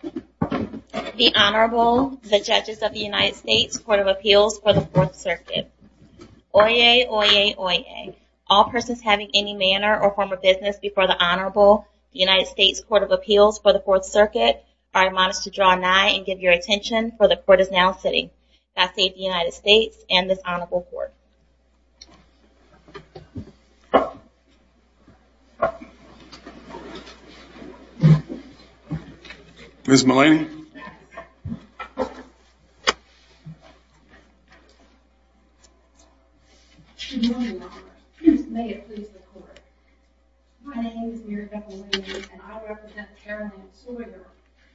The Honorable, the Judges of the United States Court of Appeals for the 4th Circuit. Oyez, oyez, oyez. All persons having any manner or form of business before the Honorable, the United States Court of Appeals for the 4th Circuit, are admonished to draw nigh and give your attention, for the Court is now sitting. God save the United States and this Honorable Court. Ms. Mullaney. Good morning, Your Honor. May it please the Court. My name is Mary Beth Mullaney and I represent Caroline Sawyer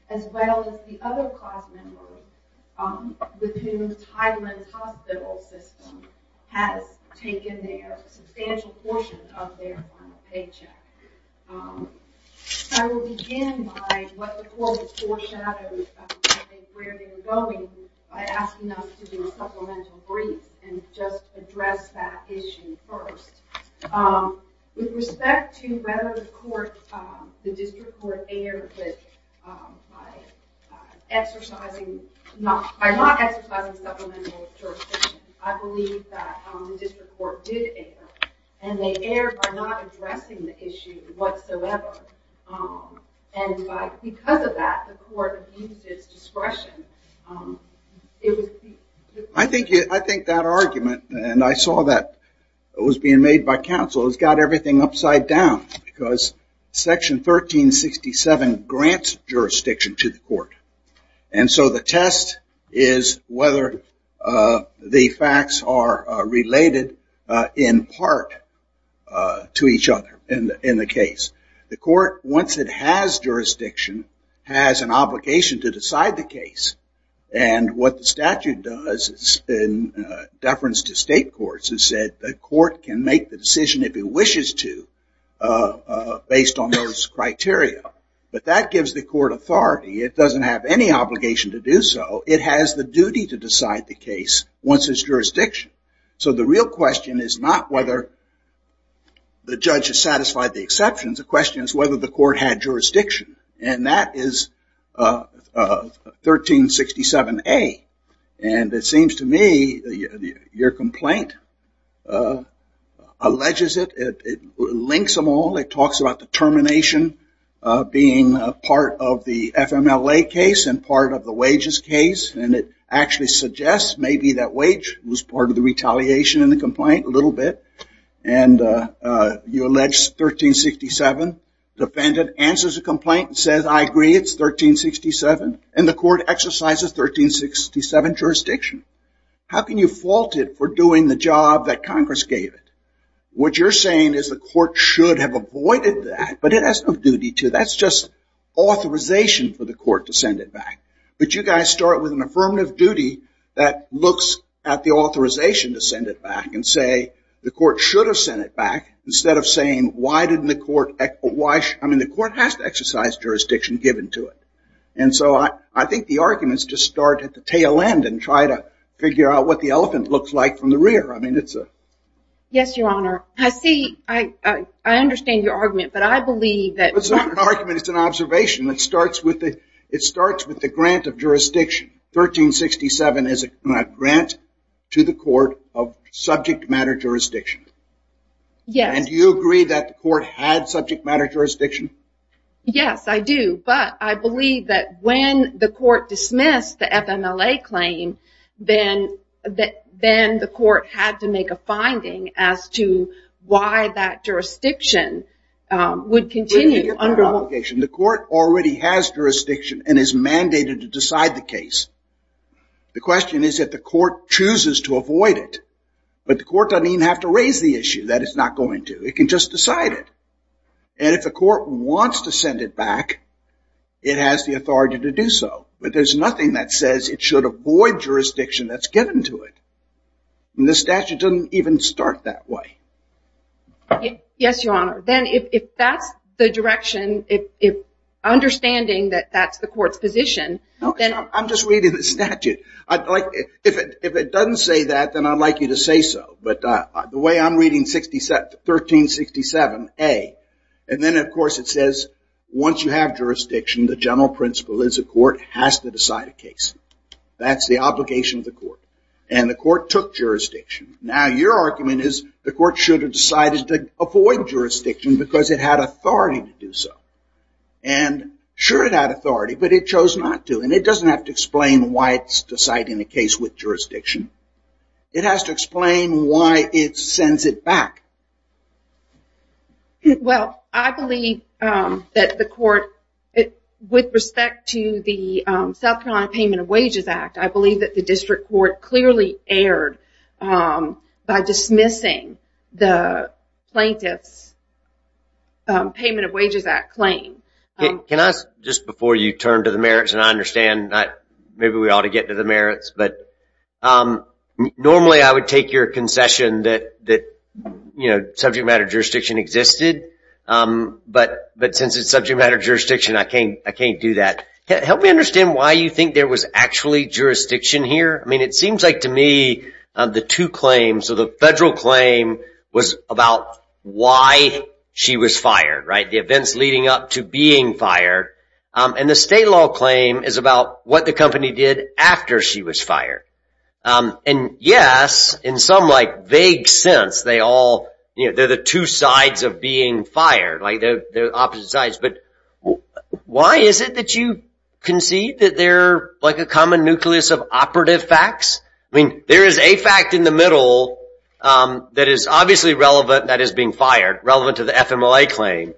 as well as the other class members with whose Tidelands Hospital System has taken their substantial portion of their final paycheck. I will begin by what the Court has foreshadowed and where they are going by asking us to do a supplemental brief and just address that issue first. With respect to whether the District Court erred by not exercising supplemental jurisdiction, I believe that the District Court did err and they erred by not addressing the issue whatsoever and because of that the Court abused its discretion. I think that argument and I saw that it was being made by counsel has got everything upside down because Section 1367 grants jurisdiction to the Court and so the test is whether the facts are related in part to each other in the case. The Court, once it has jurisdiction, has an obligation to decide the case and what the statute does in deference to state courts is that the Court can make the decision if it wishes to based on those criteria. But that gives the Court authority. It doesn't have any obligation to do so. It has the duty to decide the case once its jurisdiction. So the real question is not whether the judge has satisfied the exceptions. The question is whether the Court had jurisdiction and that is 1367A and it seems to me your complaint alleges it. It links them all. It talks about the termination being part of the FMLA case and part of the wages case and it actually suggests maybe that wage was part of the retaliation in the complaint a little bit and you allege 1367. The defendant answers the complaint and says I agree it is 1367 and the Court exercises 1367 jurisdiction. How can you fault it for doing the job that Congress gave it? What you're saying is the Court should have avoided that but it has no duty to. That's just authorization for the Court to send it back. But you guys start with an affirmative duty that looks at the authorization to send it back and say the Court should have sent it back instead of saying why didn't the Court, I mean the Court has to exercise jurisdiction given to it. And so I think the arguments just start at the tail end and try to figure out what the elephant looks like from the rear. I mean it's a. Yes, Your Honor. I see, I understand your argument but I believe that. It's not an argument, it's an observation. It starts with the grant of jurisdiction. 1367 is a grant to the Court of subject matter jurisdiction. Yes. And do you agree that the Court had subject matter jurisdiction? Yes, I do. But I believe that when the Court dismissed the FMLA claim, then the Court had to make a finding as to why that jurisdiction would continue. The Court already has jurisdiction and is mandated to decide the case. The question is if the Court chooses to avoid it. But the Court doesn't even have to raise the issue that it's not going to. It can just decide it. And if the Court wants to send it back, it has the authority to do so. But there's nothing that says it should avoid jurisdiction that's given to it. And the statute doesn't even start that way. Yes, Your Honor. Then if that's the direction, if understanding that that's the Court's position. I'm just reading the statute. If it doesn't say that, then I'd like you to say so. But the way I'm reading 1367A, and then of course it says once you have jurisdiction, the general principle is the Court has to decide a case. That's the obligation of the Court. And the Court took jurisdiction. Now your argument is the Court should have decided to avoid jurisdiction because it had authority to do so. And sure it had authority, but it chose not to. And it doesn't have to explain why it's deciding a case with jurisdiction. It has to explain why it sends it back. Well, I believe that the Court, with respect to the South Carolina Payment of Wages Act, I believe that the District Court clearly erred by dismissing the plaintiff's Payment of Wages Act claim. Just before you turn to the merits, and I understand, maybe we ought to get to the merits, but normally I would take your concession that subject matter jurisdiction existed. But since it's subject matter jurisdiction, I can't do that. Help me understand why you think there was actually jurisdiction here. I mean, it seems like to me the two claims, so the federal claim was about why she was fired, the events leading up to being fired. And the state law claim is about what the company did after she was fired. And yes, in some vague sense, they're the two sides of being fired, the opposite sides. But why is it that you concede that they're a common nucleus of operative facts? I mean, there is a fact in the middle that is obviously relevant that is being fired, relevant to the FMLA claim.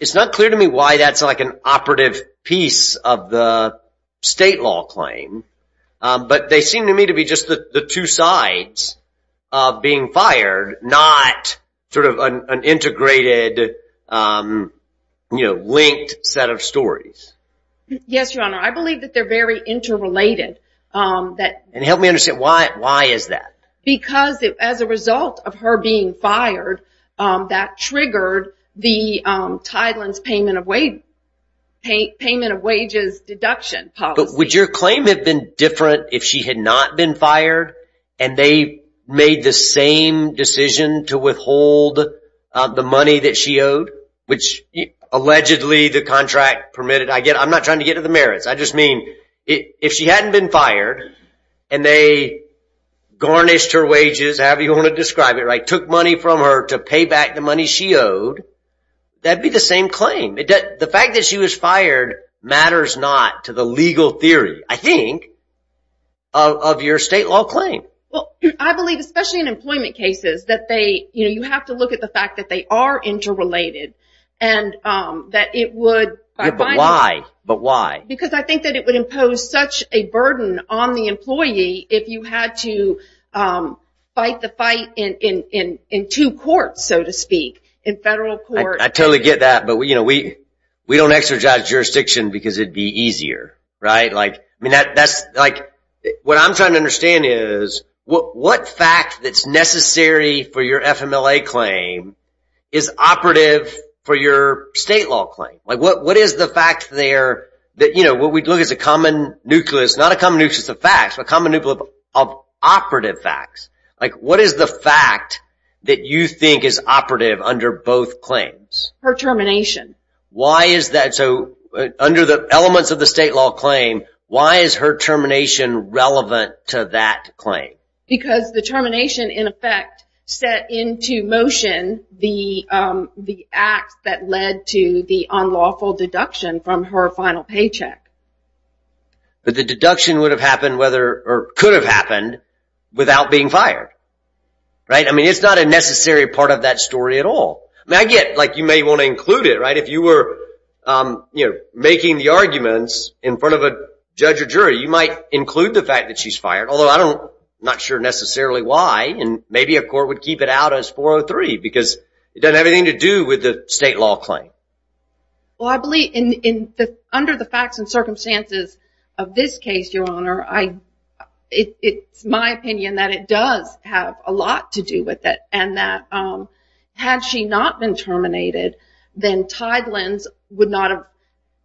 It's not clear to me why that's like an operative piece of the state law claim. But they seem to me to be just the two sides of being fired, not sort of an integrated, you know, linked set of stories. Yes, Your Honor, I believe that they're very interrelated. And help me understand, why is that? Because as a result of her being fired, that triggered the Tideland's payment of wages deduction policy. Would your claim have been different if she had not been fired, and they made the same decision to withhold the money that she owed, which allegedly the contract permitted? I'm not trying to get to the merits. I just mean, if she hadn't been fired, and they garnished her wages, however you want to describe it, right, took money from her to pay back the money she owed, that'd be the same claim. The fact that she was fired matters not to the legal theory, I think, of your state law claim. Well, I believe, especially in employment cases, that they, you know, you have to look at the fact that they are interrelated, and that it would... I totally get that, but, you know, we don't exercise jurisdiction because it'd be easier, right? Like, I mean, that's, like, what I'm trying to understand is, what fact that's necessary for your FMLA claim is operative for your state law claim? Like, what is the fact there that, you know, what we look at is a common nucleus, not a common nucleus of facts, but a common nucleus of operative facts. Like, what is the fact that you think is operative under both claims? Her termination. Why is that? So, under the elements of the state law claim, why is her termination relevant to that claim? Because the termination, in effect, set into motion the act that led to the unlawful deduction from her final paycheck. But the deduction would have happened whether, or could have happened, without being fired. Right? I mean, it's not a necessary part of that story at all. I mean, I get, like, you may want to include it, right? If you were, you know, making the arguments in front of a judge or jury, you might include the fact that she's fired, although I don't, I'm not sure necessarily why, and maybe a court would keep it out as 403, because it doesn't have anything to do with the state law claim. Well, I believe in, under the facts and circumstances of this case, Your Honor, I, it's my opinion that it does have a lot to do with it, and that had she not been terminated, then Tideland's would not have,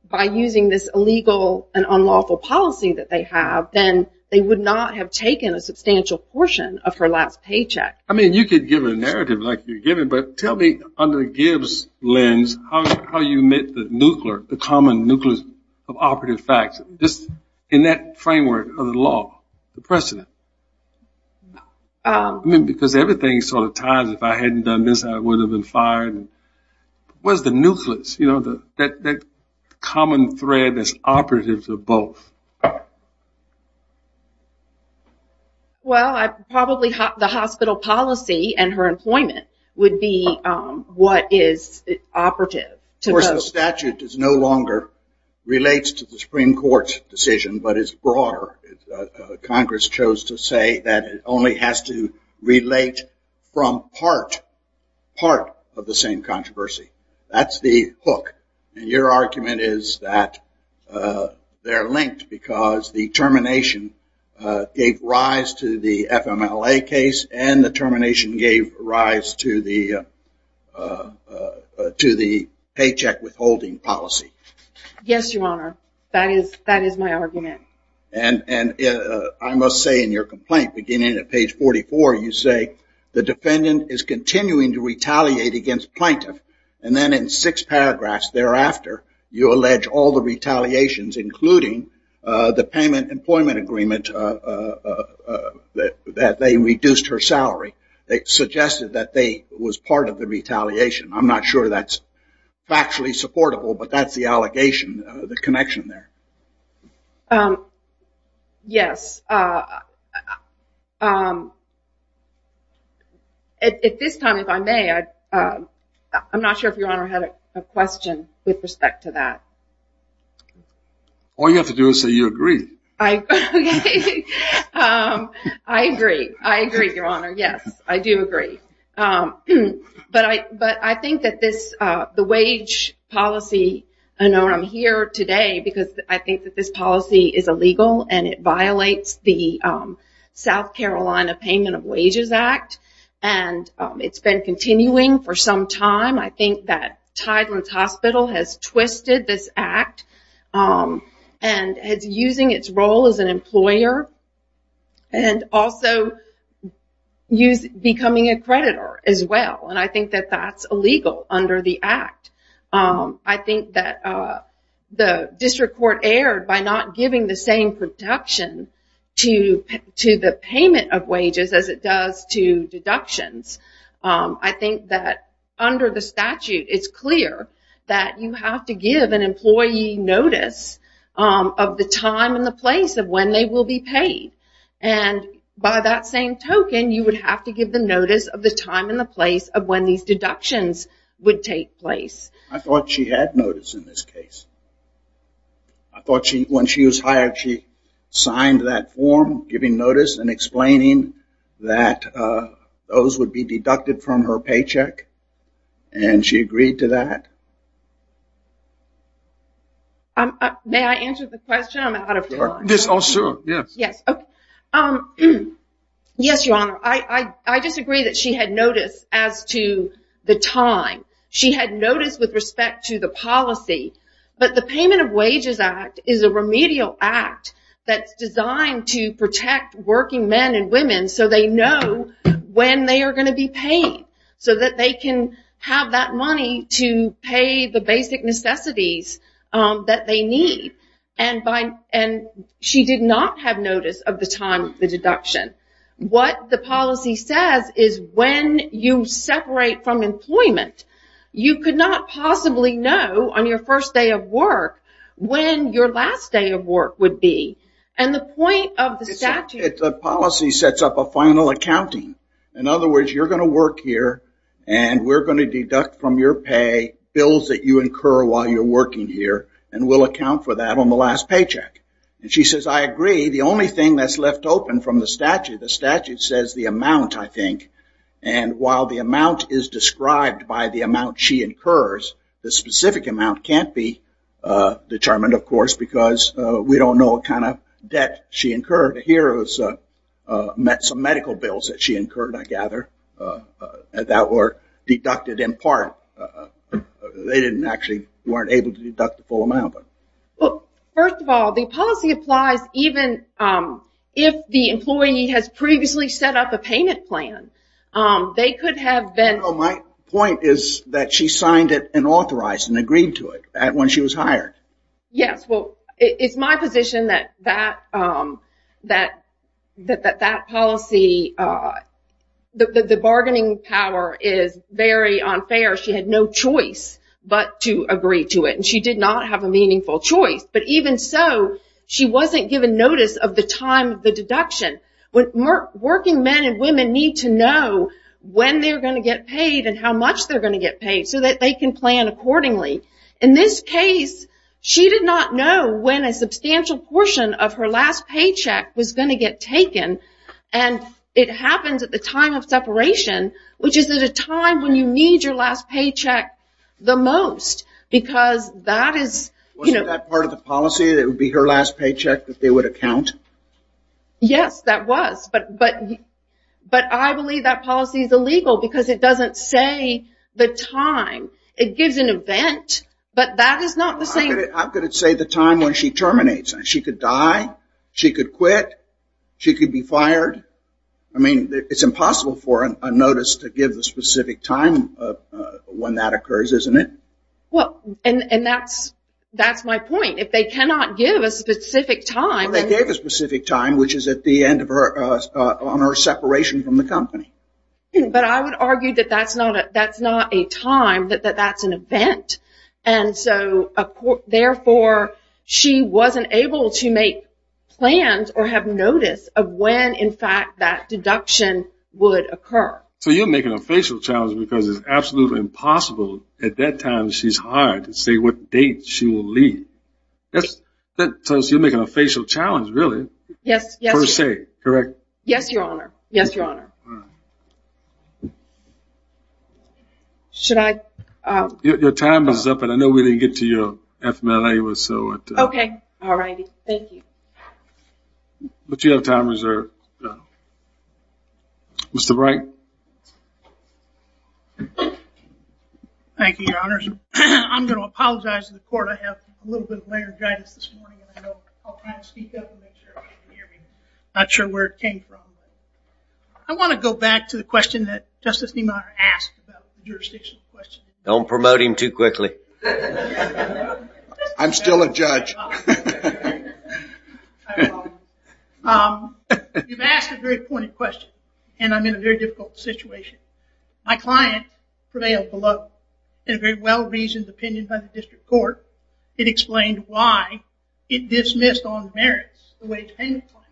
by using this illegal and unlawful policy that they have, then they would not have taken a substantial portion of her last paycheck. I mean, you could give a narrative like you're giving, but tell me, under Gibbs' lens, how you met the nuclear, the common nucleus of operative facts, just in that framework of the law, the precedent. I mean, because everything sort of ties, if I hadn't done this, I would have been fired. What is the nucleus, you know, that common thread that's operative to both? Well, I probably, the hospital policy and her employment would be what is operative. Of course, the statute no longer relates to the Supreme Court's decision, but it's broader. Congress chose to say that it only has to relate from part, part of the same controversy. That's the hook. Yes, Your Honor. That is, that is my argument. And I must say, in your complaint, beginning at page 44, you say, the defendant is continuing to retaliate against plaintiff, and then in six paragraphs thereafter, you allege all the retaliations, including the payment employment agreement that they reduced her salary. It suggested that they was part of the retaliation. I'm not sure that's factually supportable, but that's the allegation, the connection there. Yes. At this time, if I may, I'm not sure if Your Honor had a question with respect to that. All you have to do is say you agree. I agree. I agree, Your Honor. Yes, I do agree. But I think that this, the wage policy, I know I'm here today because I think that this policy is illegal and it violates the South Carolina Payment of Wages Act, and it's been continuing for some time. I think that Tideland's Hospital has twisted this act and is using its role as an employer and also becoming a creditor as well, and I think that that's illegal under the act. I think that the district court erred by not giving the same protection to the payment of wages as it does to deductions. I think that under the statute, it's clear that you have to give an employee notice of the time and the place of when they will be paid, and by that same token, you would have to give the notice of the time and the place of when these deductions would take place. I thought she had notice in this case. I thought when she was hired, she signed that form giving notice and explaining that those would be deducted from her paycheck, and she agreed to that? May I answer the question? I'm out of time. Yes, sure. And she did not have notice of the time of the deduction. What the policy says is when you separate from employment, you could not possibly know on your first day of work when your last day of work would be. The policy sets up a final accounting. In other words, you're going to work here, and we're going to deduct from your pay bills that you incur while you're working here, and we'll account for that on the last paycheck. And she says, I agree. The only thing that's left open from the statute, the statute says the amount, I think, and while the amount is described by the amount she incurs, the specific amount can't be determined, of course, because we don't know what kind of debt she incurred. Here is some medical bills that she incurred, I gather, that were deducted in part. They didn't actually, weren't able to deduct the full amount. First of all, the policy applies even if the employee has previously set up a payment plan. My point is that she signed it and authorized and agreed to it when she was hired. Yes, well, it's my position that that policy, the bargaining power is very unfair. She had no choice but to agree to it, and she did not have a meaningful choice. But even so, she wasn't given notice of the time of the deduction. Working men and women need to know when they're going to get paid and how much they're going to get paid so that they can plan accordingly. In this case, she did not know when a substantial portion of her last paycheck was going to get taken, and it happens at the time of separation, which is at a time when you need your last paycheck the most, because that is... Wasn't that part of the policy, that it would be her last paycheck that they would account? Yes, that was, but I believe that policy is illegal because it doesn't say the time. It gives an event, but that is not the same... How could it say the time when she terminates? She could die, she could quit, she could be fired. I mean, it's impossible for a notice to give the specific time when that occurs, isn't it? Well, and that's my point. If they cannot give a specific time... Well, they gave a specific time, which is at the end of her, on her separation from the company. But I would argue that that's not a time, that that's an event, and so, therefore, she wasn't able to make plans or have notice of when, in fact, that deduction would occur. So you're making a facial challenge because it's absolutely impossible at that time she's hired to say what date she will leave. That tells you you're making a facial challenge, really. Yes, yes. Per se, correct? Yes, Your Honor. Yes, Your Honor. Should I... Your time is up, and I know we didn't get to your FMLA, so... Okay, alrighty. Thank you. But you have time reserved. Mr. Wright. Thank you, Your Honors. I'm going to apologize to the court. I have a little bit of laryngitis this morning, and I know I'll try to speak up and make sure everybody can hear me. I'm not sure where it came from. I want to go back to the question that Justice Niemeyer asked about the jurisdiction question. Don't promote him too quickly. I'm still a judge. I apologize. You've asked a very pointed question, and I'm in a very difficult situation. My client prevailed below in a very well-reasoned opinion by the district court. It explained why it dismissed on merits the wage payment plan.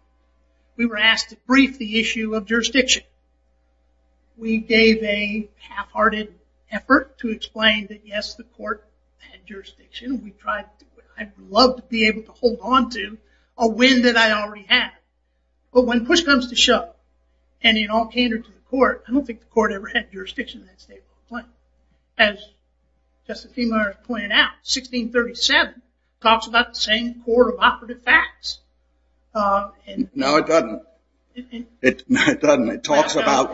We were asked to brief the issue of jurisdiction. We gave a half-hearted effort to explain that, yes, the court had jurisdiction. I'd love to be able to hold on to a win that I already had. But when push comes to shove, and in all candor to the court, I don't think the court ever had jurisdiction in that stateful complaint. As Justice Niemeyer pointed out, 1637 talks about the same court of operative facts. No, it doesn't. It doesn't. It talks about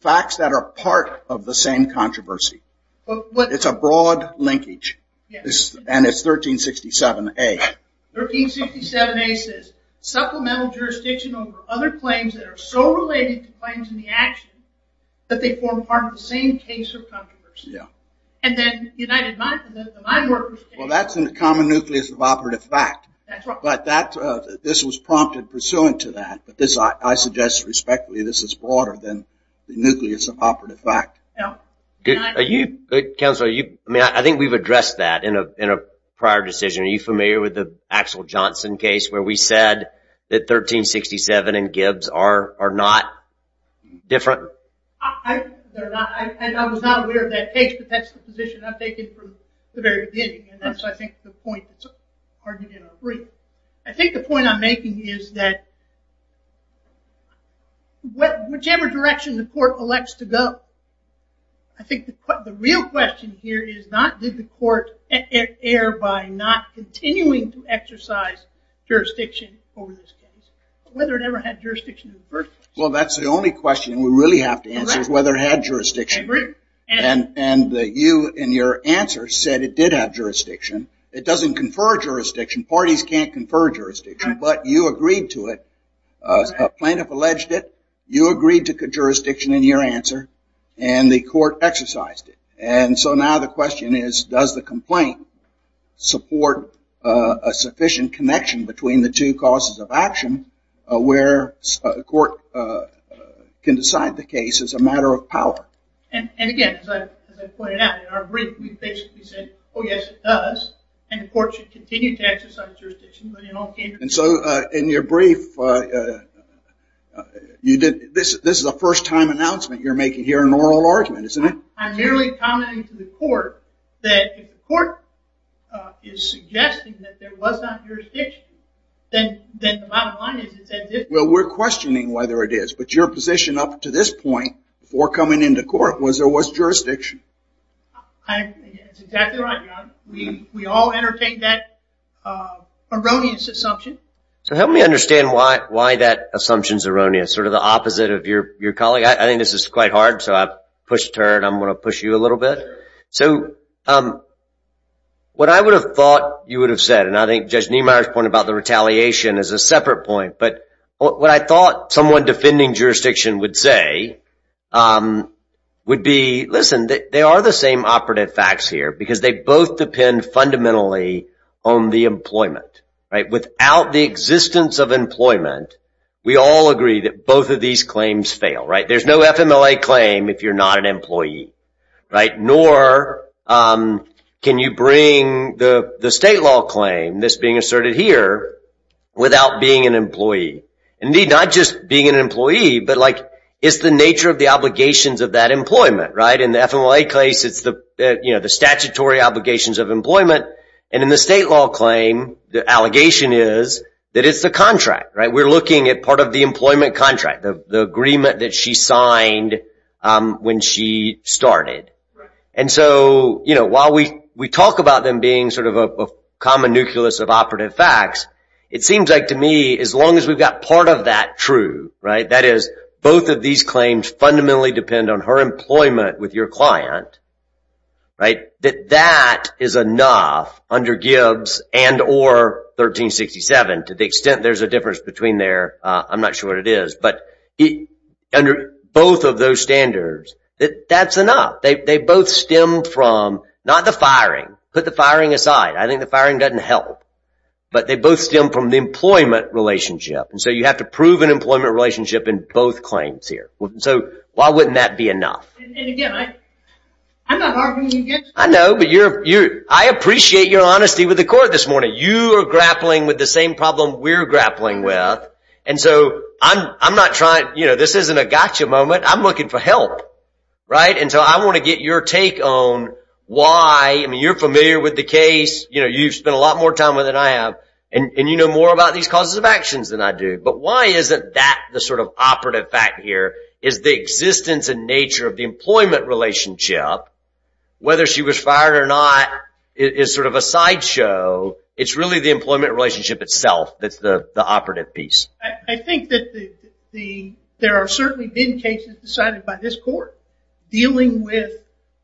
facts that are part of the same controversy. It's a broad linkage, and it's 1367A. 1367A says supplemental jurisdiction over other claims that are so related to claims in the action that they form part of the same case of controversy. And then the United Minds, the Mind Workers case. Well, that's in the common nucleus of operative fact. That's right. But this was prompted pursuant to that, but I suggest respectfully this is broader than the nucleus of operative fact. Counsel, I think we've addressed that in a prior decision. Are you familiar with the Axel Johnson case where we said that 1367 and Gibbs are not different? I was not aware of that case, but that's the position I've taken from the very beginning. And that's, I think, the point that's argued in our brief. I think the point I'm making is that whichever direction the court elects to go, I think the real question here is not did the court err by not continuing to exercise jurisdiction over this case, but whether it ever had jurisdiction in the first place. Well, that's the only question we really have to answer is whether it had jurisdiction. And you in your answer said it did have jurisdiction. It doesn't confer jurisdiction. Parties can't confer jurisdiction, but you agreed to it. A plaintiff alleged it. You agreed to jurisdiction in your answer, and the court exercised it. And so now the question is does the complaint support a sufficient connection between the two causes of action where a court can decide the case as a matter of power? And again, as I pointed out in our brief, we basically said, oh, yes, it does. And the court should continue to exercise jurisdiction. And so in your brief, this is a first-time announcement you're making here in oral argument, isn't it? I'm merely commenting to the court that if the court is suggesting that there was not jurisdiction, then the bottom line is it's at this point. Well, we're questioning whether it is, but your position up to this point before coming into court was there was jurisdiction. That's exactly right, Your Honor. We all entertain that erroneous assumption. So help me understand why that assumption's erroneous, sort of the opposite of your colleague. I think this is quite hard, so I've pushed her, and I'm going to push you a little bit. So what I would have thought you would have said, and I think Judge Niemeyer's point about the retaliation is a separate point, but what I thought someone defending jurisdiction would say would be, listen, they are the same operative facts here, because they both depend fundamentally on the employment, right? Without the existence of employment, we all agree that both of these claims fail, right? There's no FMLA claim if you're not an employee, right? Or can you bring the state law claim, this being asserted here, without being an employee? Indeed, not just being an employee, but it's the nature of the obligations of that employment, right? In the FMLA case, it's the statutory obligations of employment, and in the state law claim, the allegation is that it's the contract, right? And so, you know, while we talk about them being sort of a common nucleus of operative facts, it seems like to me, as long as we've got part of that true, right? That is, both of these claims fundamentally depend on her employment with your client, right? That that is enough under Gibbs and or 1367, to the extent there's a difference between there. I'm not sure what it is, but under both of those standards, that's enough. They both stem from not the firing, put the firing aside. I think the firing doesn't help. But they both stem from the employment relationship. And so you have to prove an employment relationship in both claims here. So why wouldn't that be enough? And again, I'm not arguing against you. I know, but I appreciate your honesty with the court this morning. You are grappling with the same problem we're grappling with. And so I'm not trying, you know, this isn't a gotcha moment. I'm looking for help, right? And so I want to get your take on why, I mean, you're familiar with the case. You know, you've spent a lot more time with it than I have. And you know more about these causes of actions than I do. But why isn't that the sort of operative fact here is the existence and nature of the employment relationship, whether she was fired or not, is sort of a sideshow. It's really the employment relationship itself that's the operative piece. I think that there have certainly been cases decided by this court dealing with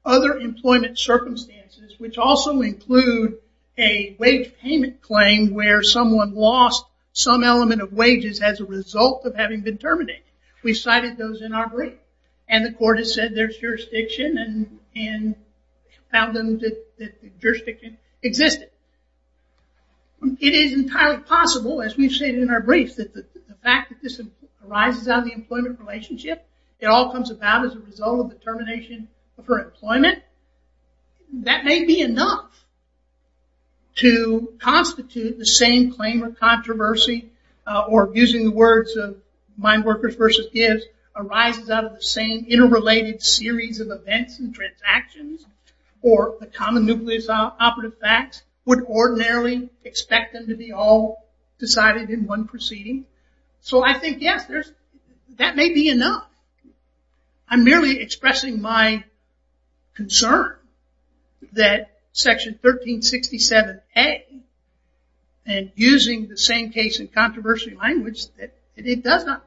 other employment circumstances, which also include a wage payment claim where someone lost some element of wages as a result of having been terminated. We cited those in our brief. And the court has said there's jurisdiction and found that the jurisdiction existed. It is entirely possible, as we've stated in our brief, that the fact that this arises out of the employment relationship, it all comes about as a result of the termination of her employment. That may be enough to constitute the same claim of controversy, or using the words of Mineworkers versus Gibbs, arises out of the same interrelated series of events and transactions or the common nucleus operative facts would ordinarily expect them to be all decided in one proceeding. So I think, yes, that may be enough. I'm merely expressing my concern that Section 1367A and using the same case and controversy language, it does not.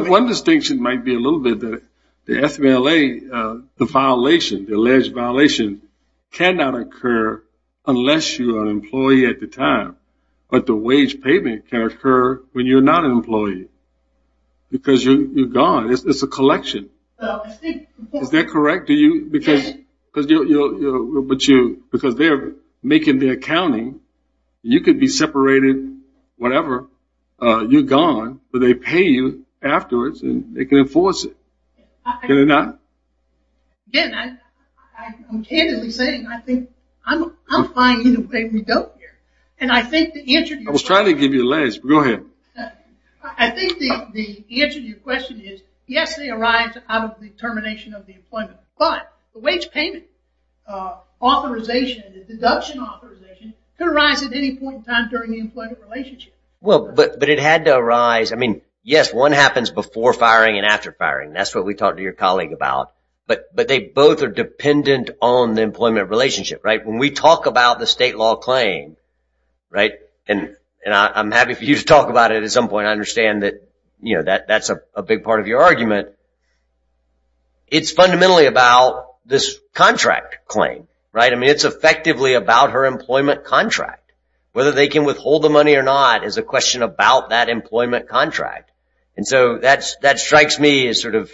One distinction might be a little bit that the FVLA, the violation, the alleged violation, cannot occur unless you are an employee at the time. But the wage payment can occur when you're not an employee because you're gone. It's a collection. Is that correct? Because they're making the accounting. You could be separated, whatever. You're gone, but they pay you afterwards and they can enforce it. Can they not? Again, I'm candidly saying I think I'm fine in the way we go here. And I think the answer to your question is yes, they arise out of the termination of the employment. But the wage payment authorization, the deduction authorization could arise at any point in time during the employment relationship. Well, but it had to arise. I mean, yes, one happens before firing and after firing. That's what we talked to your colleague about. But they both are dependent on the employment relationship. When we talk about the state law claim, and I'm happy for you to talk about it at some point. I understand that that's a big part of your argument. It's fundamentally about this contract claim, right? I mean, it's effectively about her employment contract. Whether they can withhold the money or not is a question about that employment contract. And so that strikes me as sort of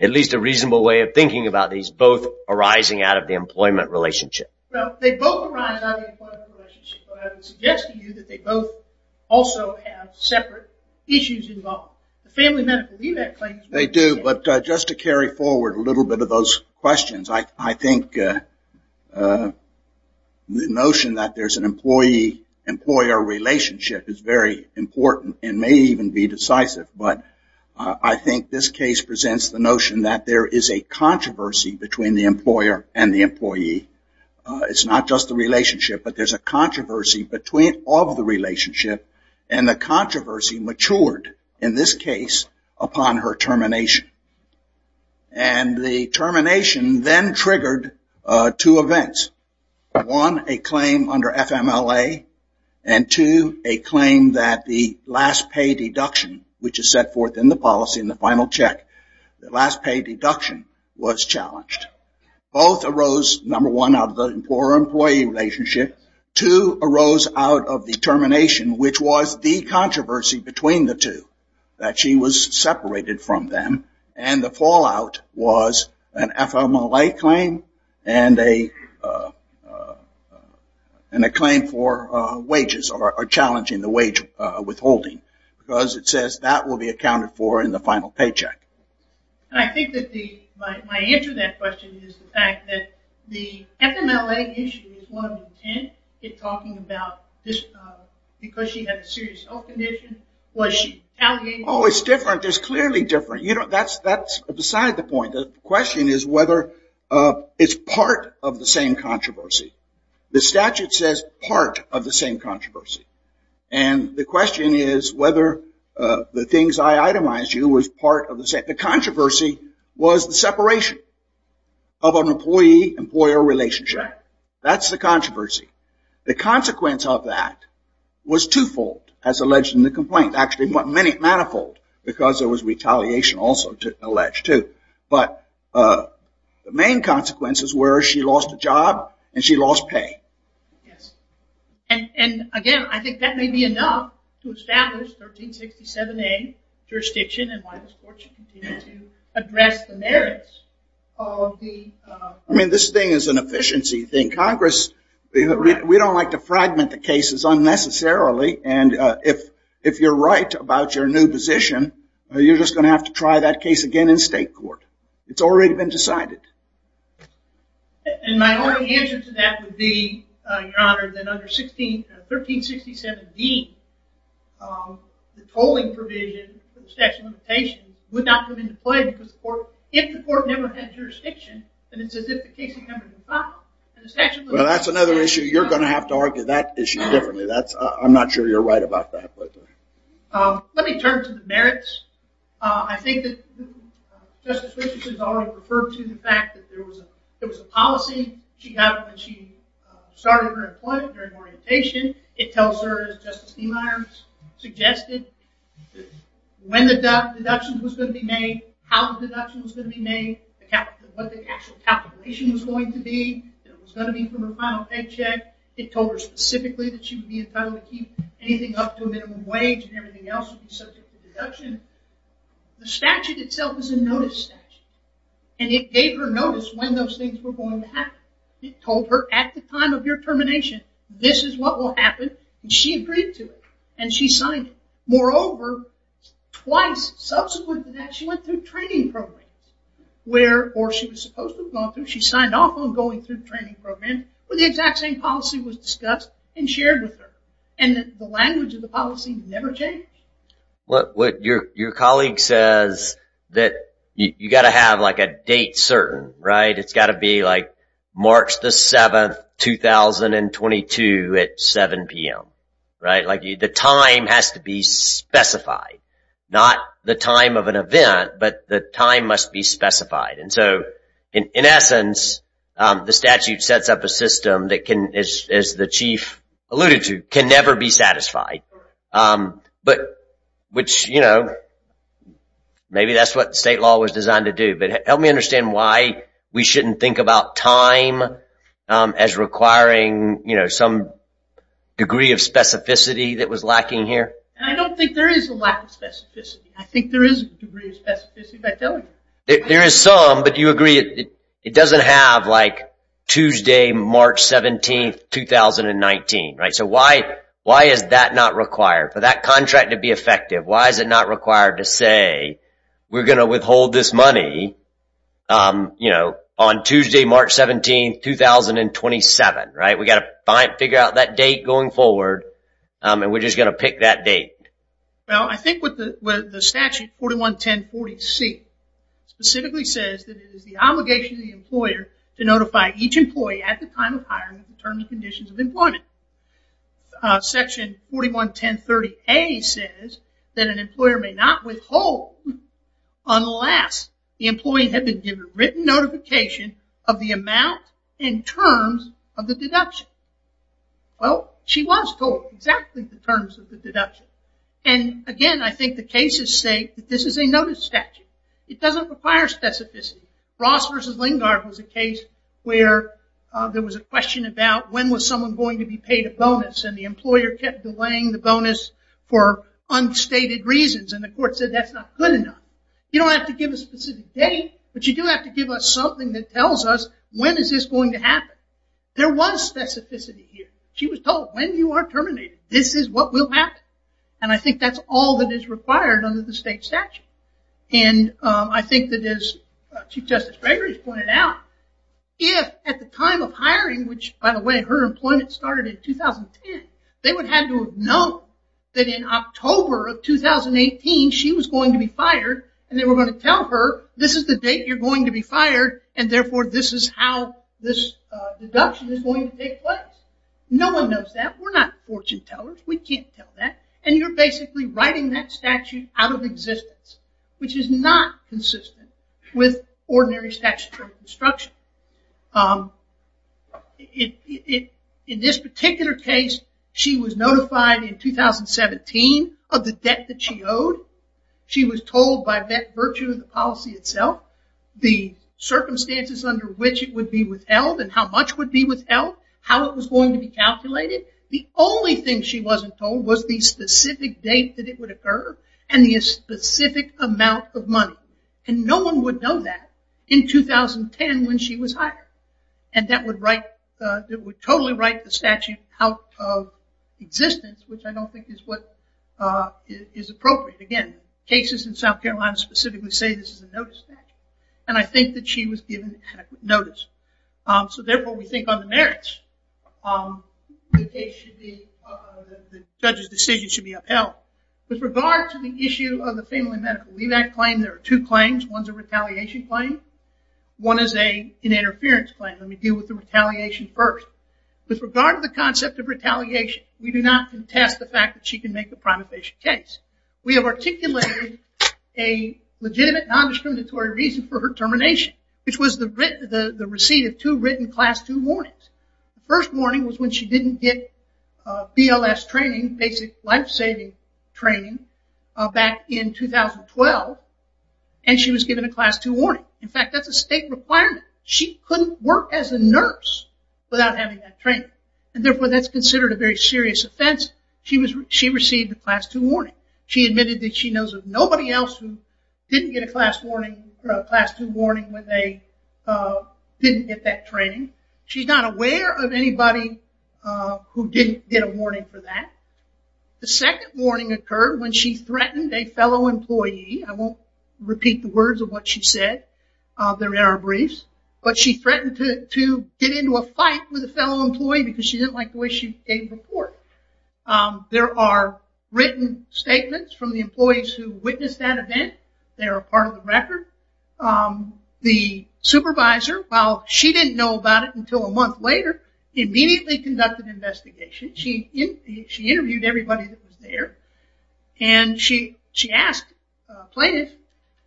at least a reasonable way of thinking about these both arising out of the employment relationship. Well, they both arise out of the employment relationship. So I would suggest to you that they both also have separate issues involved. They do, but just to carry forward a little bit of those questions. I think the notion that there's an employee-employer relationship is very important and may even be decisive. But I think this case presents the notion that there is a controversy between the employer and the employee. It's not just the relationship, but there's a controversy of the relationship and the controversy matured. In this case, upon her termination. And the termination then triggered two events. One, a claim under FMLA, and two, a claim that the last pay deduction, which is set forth in the policy in the final check, the last pay deduction was challenged. Both arose, number one, out of the employer-employee relationship. Two arose out of the termination, which was the controversy between the two. That she was separated from them. And the fallout was an FMLA claim and a claim for wages or challenging the wage withholding. Because it says that will be accounted for in the final paycheck. I think that my answer to that question is the fact that the FMLA issue is one of intent. It's talking about because she had a serious health condition. Oh, it's different. It's clearly different. That's beside the point. The question is whether it's part of the same controversy. The statute says part of the same controversy. And the question is whether the things I itemized to you was part of the same. The controversy was the separation of an employee-employer relationship. That's the controversy. The consequence of that was twofold, as alleged in the complaint. Actually, manifold, because there was retaliation also alleged, too. But the main consequences were she lost a job and she lost pay. And, again, I think that may be enough to establish 1367A jurisdiction and why this court should continue to address the merits of the... I mean, this thing is an efficiency thing. Congress, we don't like to fragment the cases unnecessarily. And if you're right about your new position, you're just going to have to try that case again in state court. It's already been decided. And my only answer to that would be, Your Honor, that under 1367B, the tolling provision for the statute of limitations would not have been deployed if the court never had jurisdiction. And it's as if the case had never been filed. Well, that's another issue. You're going to have to argue that issue differently. I'm not sure you're right about that. Let me turn to the merits. I think that Justice Richardson has already referred to the fact that there was a policy she had when she started her employment during orientation. It tells her, as Justice Niemeyer suggested, when the deduction was going to be made, how the deduction was going to be made, what the actual calculation was going to be. It was going to be from her final paycheck. It told her specifically that she would be entitled to keep anything up to a minimum wage and everything else would be subject to deduction. The statute itself is a notice statute. And it gave her notice when those things were going to happen. It told her at the time of your termination, this is what will happen. She agreed to it. And she signed it. Moreover, twice subsequent to that, she went through training programs, or she was supposed to have gone through. She signed off on going through training programs where the exact same policy was discussed and shared with her. And the language of the policy never changed. Your colleague says that you've got to have a date certain. It's got to be March 7, 2022 at 7 p.m. The time has to be specified. Not the time of an event, but the time must be specified. In essence, the statute sets up a system that can, as the chief alluded to, can never be satisfied. Which, you know, maybe that's what state law was designed to do. But help me understand why we shouldn't think about time as requiring some degree of specificity that was lacking here. I don't think there is a lack of specificity. I think there is a degree of specificity. There is some, but you agree it doesn't have, like, Tuesday, March 17, 2019. So why is that not required? For that contract to be effective, why is it not required to say we're going to withhold this money on Tuesday, March 17, 2027? We've got to figure out that date going forward, and we're just going to pick that date. Well, I think what the statute, 411040C, specifically says that it is the obligation of the employer to notify each employee at the time of hiring in terms of conditions of employment. Section 411030A says that an employer may not withhold unless the employee had been given written notification of the amount in terms of the deduction. Well, she was told exactly the terms of the deduction. And again, I think the cases say that this is a notice statute. It doesn't require specificity. Ross v. Lingard was a case where there was a question about when was someone going to be paid a bonus, and the employer kept delaying the bonus for unstated reasons, and the court said that's not good enough. You don't have to give a specific date, when is this going to happen. There was specificity here. She was told, when you are terminated, this is what will happen. And I think that's all that is required under the state statute. And I think that as Chief Justice Gregory has pointed out, if at the time of hiring, which, by the way, her employment started in 2010, they would have had to have known that in October of 2018, she was going to be fired, and they were going to tell her, this is the date you're going to be fired, and therefore this is how this deduction is going to take place. No one knows that. We're not fortune tellers. We can't tell that. And you're basically writing that statute out of existence, which is not consistent with ordinary statutory construction. In this particular case, she was notified in 2017 of the debt that she owed. She was told by virtue of the policy itself, the circumstances under which it would be withheld and how much would be withheld, how it was going to be calculated. The only thing she wasn't told was the specific date that it would occur and the specific amount of money. And no one would know that in 2010 when she was hired. And that would totally write the statute out of existence, which I don't think is what is appropriate. Again, cases in South Carolina specifically say this is a notice statute, and I think that she was given adequate notice. So therefore, we think on the merits, the judge's decision should be upheld. With regard to the issue of the family medical leave-back claim, there are two claims. One's a retaliation claim. One is an interference claim. Let me deal with the retaliation first. With regard to the concept of retaliation, we do not contest the fact that she can make a primate patient case. We have articulated a legitimate, non-discriminatory reason for her termination, which was the receipt of two written Class 2 warnings. The first warning was when she didn't get BLS training, basic life-saving training, back in 2012, and she was given a Class 2 warning. In fact, that's a state requirement. She couldn't work as a nurse without having that training. And therefore, that's considered a very serious offense. She received a Class 2 warning. She admitted that she knows of nobody else who didn't get a Class 2 warning when they didn't get that training. She's not aware of anybody who didn't get a warning for that. The second warning occurred when she threatened a fellow employee. I won't repeat the words of what she said. They're in our briefs. But she threatened to get into a fight with a fellow employee because she didn't like the way she gave the report. There are written statements from the employees who witnessed that event. They are a part of the record. The supervisor, while she didn't know about it until a month later, immediately conducted an investigation. She interviewed everybody that was there, and she asked plaintiffs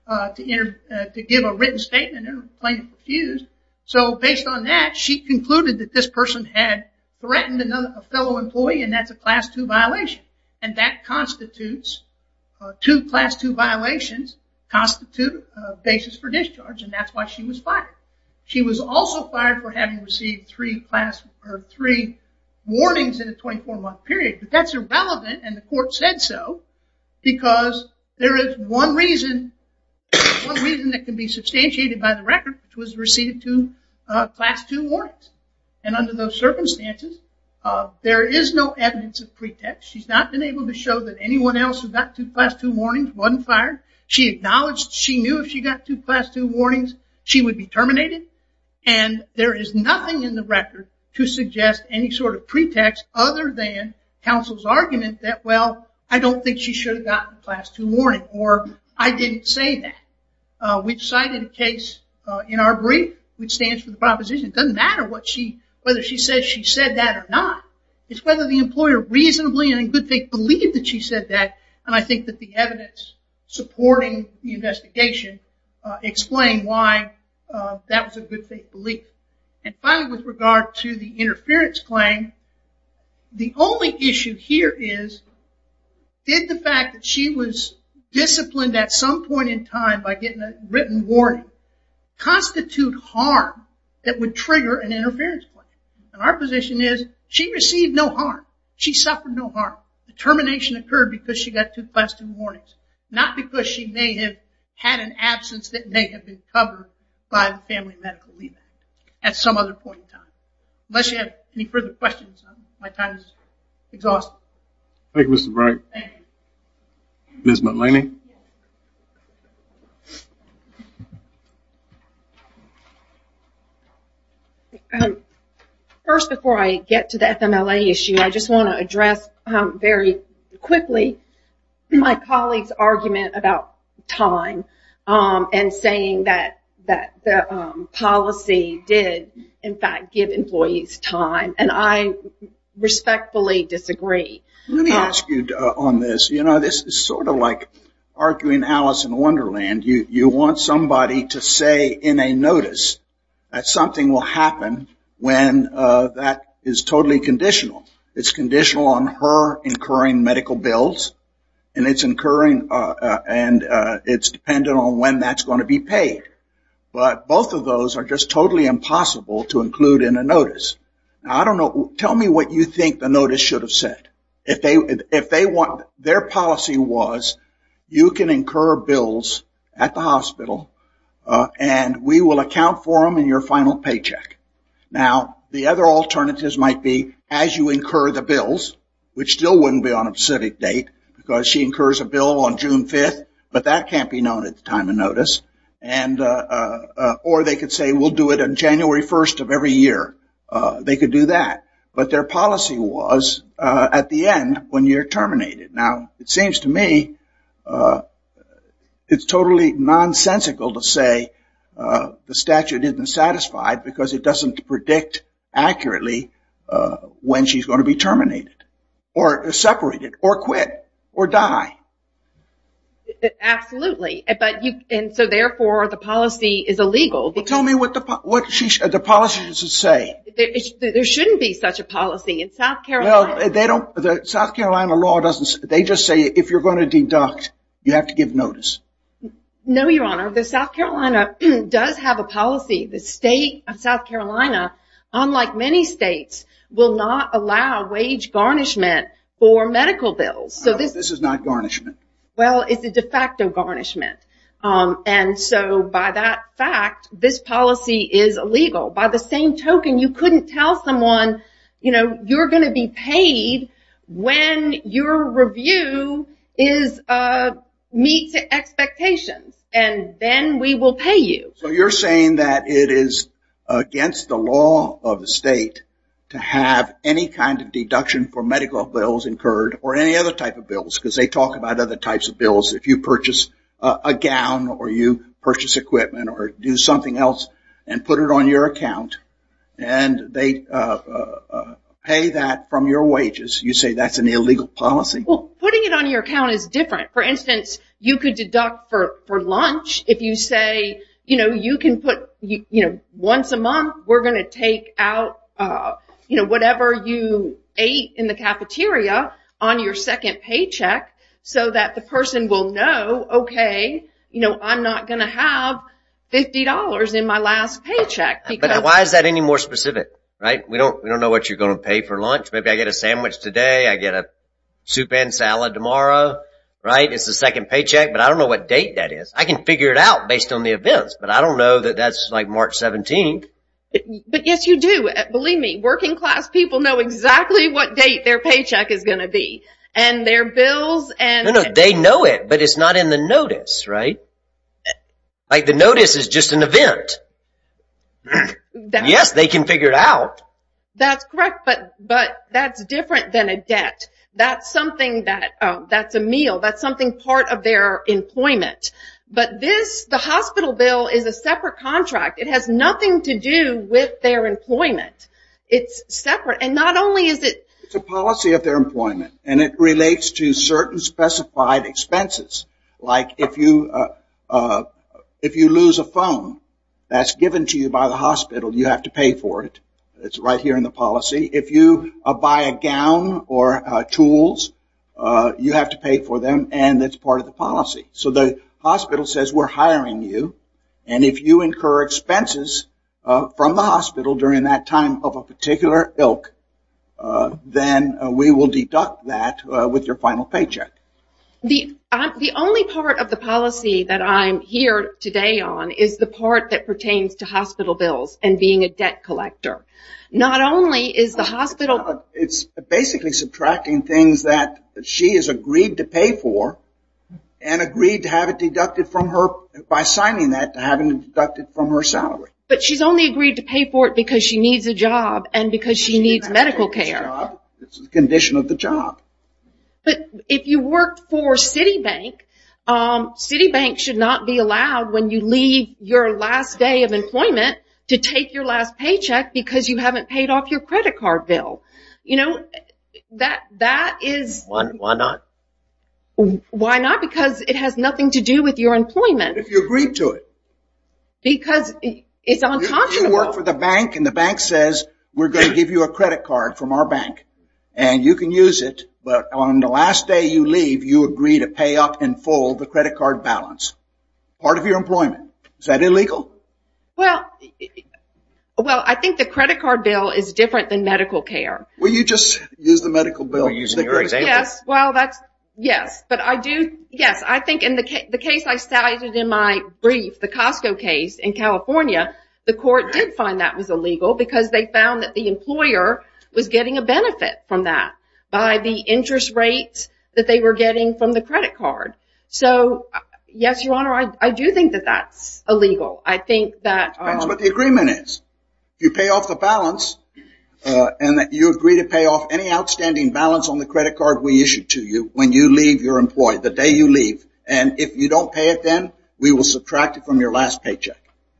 to give a written statement, and the plaintiff refused. So based on that, she concluded that this person had threatened a fellow employee, and that's a Class 2 violation. And that constitutes two Class 2 violations constitute a basis for discharge, and that's why she was fired. She was also fired for having received three warnings in a 24-month period. But that's irrelevant, and the court said so, because there is one reason that can be substantiated by the record, which was receiving two Class 2 warnings. And under those circumstances, there is no evidence of pretext. She's not been able to show that anyone else who got two Class 2 warnings wasn't fired. She acknowledged she knew if she got two Class 2 warnings, she would be terminated. And there is nothing in the record to suggest any sort of pretext other than counsel's argument that, well, I don't think she should have gotten a Class 2 warning, or I didn't say that. We've cited a case in our brief, which stands for the proposition. It doesn't matter whether she says she said that or not. It's whether the employer reasonably and in good faith believed that she said that, and I think that the evidence supporting the investigation explained why that was a good faith belief. And finally, with regard to the interference claim, the only issue here is did the fact that she was disciplined at some point in time by getting a written warning constitute harm that would trigger an interference claim? And our position is she received no harm. She suffered no harm. The termination occurred because she got two Class 2 warnings, not because she may have had an absence that may have been covered by the family medical leave at some other point in time. Unless you have any further questions, my time is exhausted. Thank you, Mr. Bright. Ms. McLaney? First, before I get to the FMLA issue, I just want to address very quickly my colleague's argument about time and saying that the policy did, in fact, give employees time, and I respectfully disagree. Let me ask you on this. You know, this is sort of like arguing Alice in Wonderland. You want somebody to say in a notice that something will happen when that is totally conditional. It's conditional on her incurring medical bills, and it's incurring and it's dependent on when that's going to be paid. Tell me what you think the notice should have said. If their policy was you can incur bills at the hospital and we will account for them in your final paycheck. Now, the other alternatives might be as you incur the bills, which still wouldn't be on a specific date because she incurs a bill on June 5th, but that can't be known at the time of notice. Or they could say we'll do it on January 1st of every year. They could do that. But their policy was at the end when you're terminated. Now, it seems to me it's totally nonsensical to say the statute isn't satisfied because it doesn't predict accurately when she's going to be terminated or separated or quit or die. Absolutely. And so, therefore, the policy is illegal. But tell me what the policy should say. There shouldn't be such a policy in South Carolina. Well, they don't. The South Carolina law doesn't. They just say if you're going to deduct, you have to give notice. No, Your Honor. The South Carolina does have a policy. The state of South Carolina, unlike many states, will not allow wage garnishment for medical bills. This is not garnishment. Well, it's a de facto garnishment. And so, by that fact, this policy is illegal. By the same token, you couldn't tell someone, you know, you're going to be paid when your review meets expectations, and then we will pay you. So you're saying that it is against the law of the state to have any kind of bills because they talk about other types of bills. If you purchase a gown or you purchase equipment or do something else and put it on your account and they pay that from your wages, you say that's an illegal policy? Well, putting it on your account is different. For instance, you could deduct for lunch if you say, you know, you can put, you know, once a month we're going to take out, you know, whatever you ate in the cafeteria on your second paycheck so that the person will know, okay, you know, I'm not going to have $50 in my last paycheck. But why is that any more specific, right? We don't know what you're going to pay for lunch. Maybe I get a sandwich today, I get a soup and salad tomorrow, right? It's the second paycheck, but I don't know what date that is. I can figure it out based on the events, but I don't know that that's like March 17th. But, yes, you do. Believe me, working class people know exactly what date their paycheck is going to be. And their bills and... No, no, they know it, but it's not in the notice, right? Like the notice is just an event. Yes, they can figure it out. That's correct, but that's different than a debt. That's something that's a meal. That's something part of their employment. But this, the hospital bill is a separate contract. It has nothing to do with their employment. It's separate, and not only is it... It's a policy of their employment, and it relates to certain specified expenses. Like if you lose a phone that's given to you by the hospital, you have to pay for it. It's right here in the policy. If you buy a gown or tools, you have to pay for them, and it's part of the policy. So the hospital says we're hiring you, and if you incur expenses from the hospital during that time of a particular ilk, then we will deduct that with your final paycheck. The only part of the policy that I'm here today on is the part that pertains to hospital bills and being a debt collector. Not only is the hospital... It's basically subtracting things that she has agreed to pay for and agreed to have it deducted from her by signing that to have it deducted from her salary. But she's only agreed to pay for it because she needs a job and because she needs medical care. It's a condition of the job. But if you work for Citibank, Citibank should not be allowed when you leave your last day of employment to take your last paycheck because you haven't paid off your credit card bill. That is... Why not? Why not? Because it has nothing to do with your employment. If you agree to it. Because it's unconscionable. If you work for the bank and the bank says we're going to give you a credit card from our bank and you can use it, but on the last day you leave, you agree to pay up in full the credit card balance. Part of your employment. Is that illegal? Well, I think the credit card bill is different than medical care. Well, you just used the medical bill. Yes. Well, that's... Yes. But I do... Yes. I think in the case I cited in my brief, the Costco case in California, the court did find that was illegal because they found that the employer was getting a benefit from that by the interest rate that they were getting from the credit card. So, yes, Your Honor, I do think that that's illegal. I think that... That's what the agreement is. You pay off the balance and that you agree to pay off any outstanding balance on the credit card we issued to you when you leave your employee, the day you leave. And if you don't pay it then, we will subtract it from your last paycheck.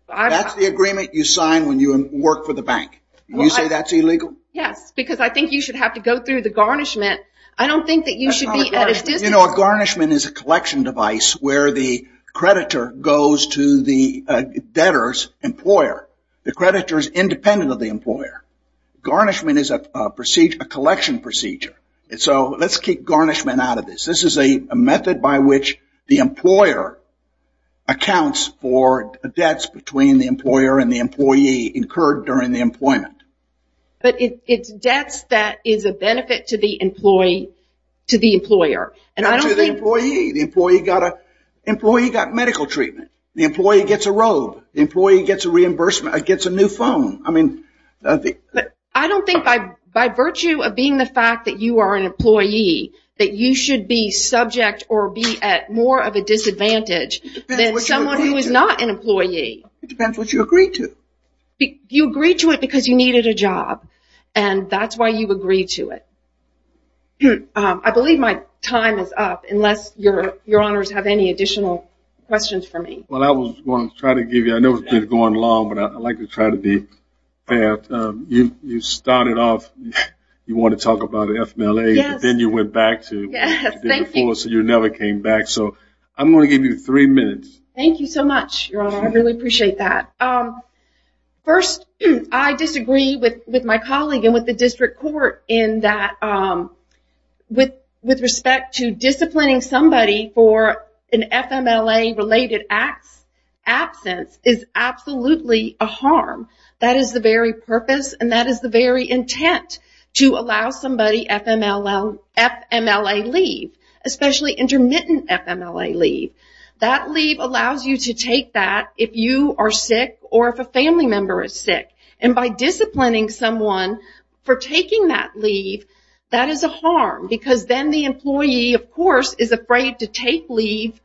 That's the agreement you sign when you work for the bank. You say that's illegal? Yes, because I think you should have to go through the garnishment. I don't think that you should be at a distance... You know, a garnishment is a collection device where the creditor goes to the debtor's employer. The creditor is independent of the employer. Garnishment is a collection procedure. So, let's keep garnishment out of this. This is a method by which the employer accounts for debts between the employer and the employee incurred during the employment. But it's debts that is a benefit to the employee, to the employer. Not to the employee. The employee got medical treatment. The employee gets a robe. The employee gets a reimbursement, gets a new phone. I mean... I don't think by virtue of being the fact that you are an employee, that you should be subject or be at more of a disadvantage than someone who is not an employee. It depends what you agree to. You agree to it because you needed a job. And that's why you agree to it. I believe my time is up, unless your honors have any additional questions for me. Well, I was going to try to give you... I know we've been going long, but I'd like to try to be fast. You started off, you wanted to talk about FMLA. Yes. Then you went back to... Yes, thank you. So, you never came back. So, I'm going to give you three minutes. Thank you so much, Your Honor. I really appreciate that. First, I disagree with my colleague and with the district court in that with respect to disciplining somebody for an FMLA-related absence is absolutely a harm. That is the very purpose, and that is the very intent, to allow somebody FMLA leave, especially intermittent FMLA leave. That leave allows you to take that if you are sick or if a family member is sick. And by disciplining someone for taking that leave, that is a harm, because then the employee, of course, is afraid to take leave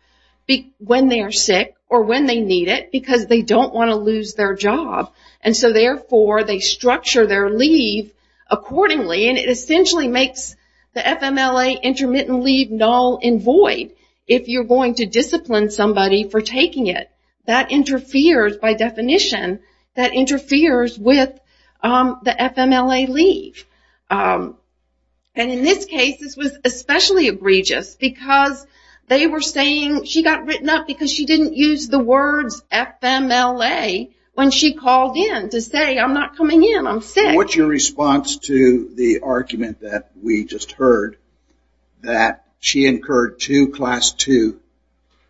when they are sick or when they need it because they don't want to lose their job. And so, therefore, they structure their leave accordingly, and it essentially makes the FMLA intermittent leave null and void if you're going to discipline somebody for taking it. That interferes, by definition, that interferes with the FMLA leave. And in this case, this was especially egregious because they were saying she got written up because she didn't use the words FMLA when she called in to say, What's your response to the argument that we just heard that she incurred two Class II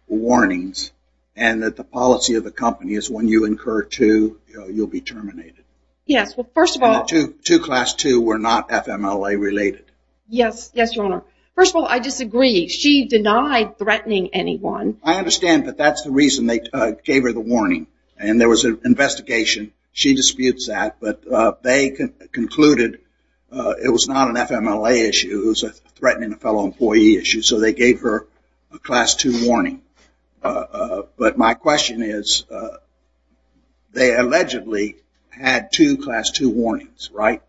warnings and that the policy of the company is when you incur two, you'll be terminated? Yes, well, first of all, Two Class II were not FMLA-related. Yes, yes, Your Honor. First of all, I disagree. She denied threatening anyone. I understand, but that's the reason they gave her the warning, and there was an investigation. She disputes that, but they concluded it was not an FMLA issue. It was threatening a fellow employee issue, so they gave her a Class II warning. But my question is, they allegedly had two Class II warnings, right?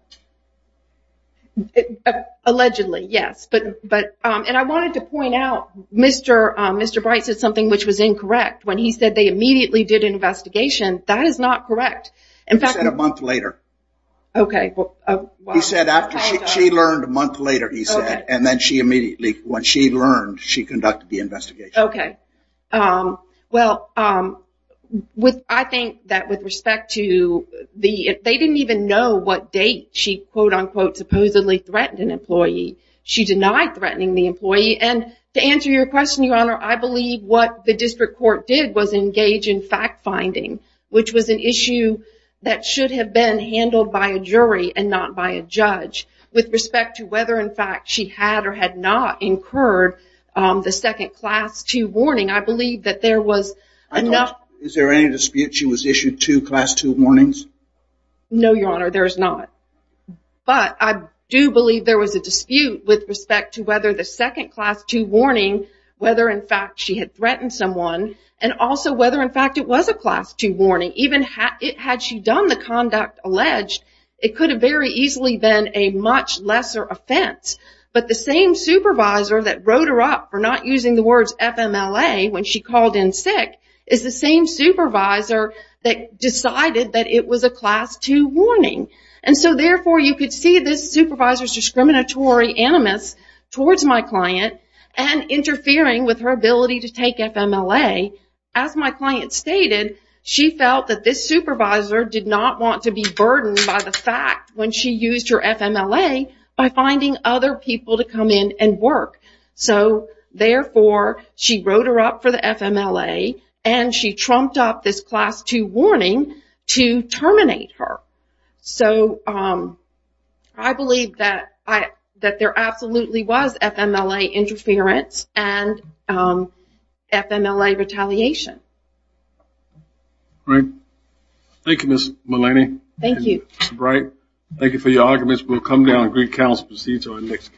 Allegedly, yes. And I wanted to point out, Mr. Bright said something which was incorrect. When he said they immediately did an investigation, that is not correct. He said a month later. Okay. He said after she learned a month later, he said, and then she immediately, when she learned, she conducted the investigation. Okay. Well, I think that with respect to the, they didn't even know what date she quote-unquote supposedly threatened an employee. She denied threatening the employee. And to answer your question, Your Honor, I believe what the district court did was engage in fact-finding, which was an issue that should have been handled by a jury and not by a judge. With respect to whether in fact she had or had not incurred the second Class II warning, I believe that there was enough. Is there any dispute she was issued two Class II warnings? No, Your Honor, there is not. But I do believe there was a dispute with respect to whether the second Class II warning, whether in fact she had threatened someone, and also whether in fact it was a Class II warning. Even had she done the conduct alleged, it could have very easily been a much lesser offense. But the same supervisor that wrote her up for not using the words FMLA when she called in sick, is the same supervisor that decided that it was a Class II warning. And so therefore you could see this supervisor's discriminatory animus towards my client and interfering with her ability to take FMLA. As my client stated, she felt that this supervisor did not want to be burdened by the fact when she used her FMLA by finding other people to come in and work. So therefore she wrote her up for the FMLA, and she trumped up this Class II warning to terminate her. So I believe that there absolutely was FMLA interference and FMLA retaliation. Great. Thank you, Ms. Mullaney. Thank you. Mr. Bright, thank you for your arguments. We'll come down and greet counsel and proceed to our next case.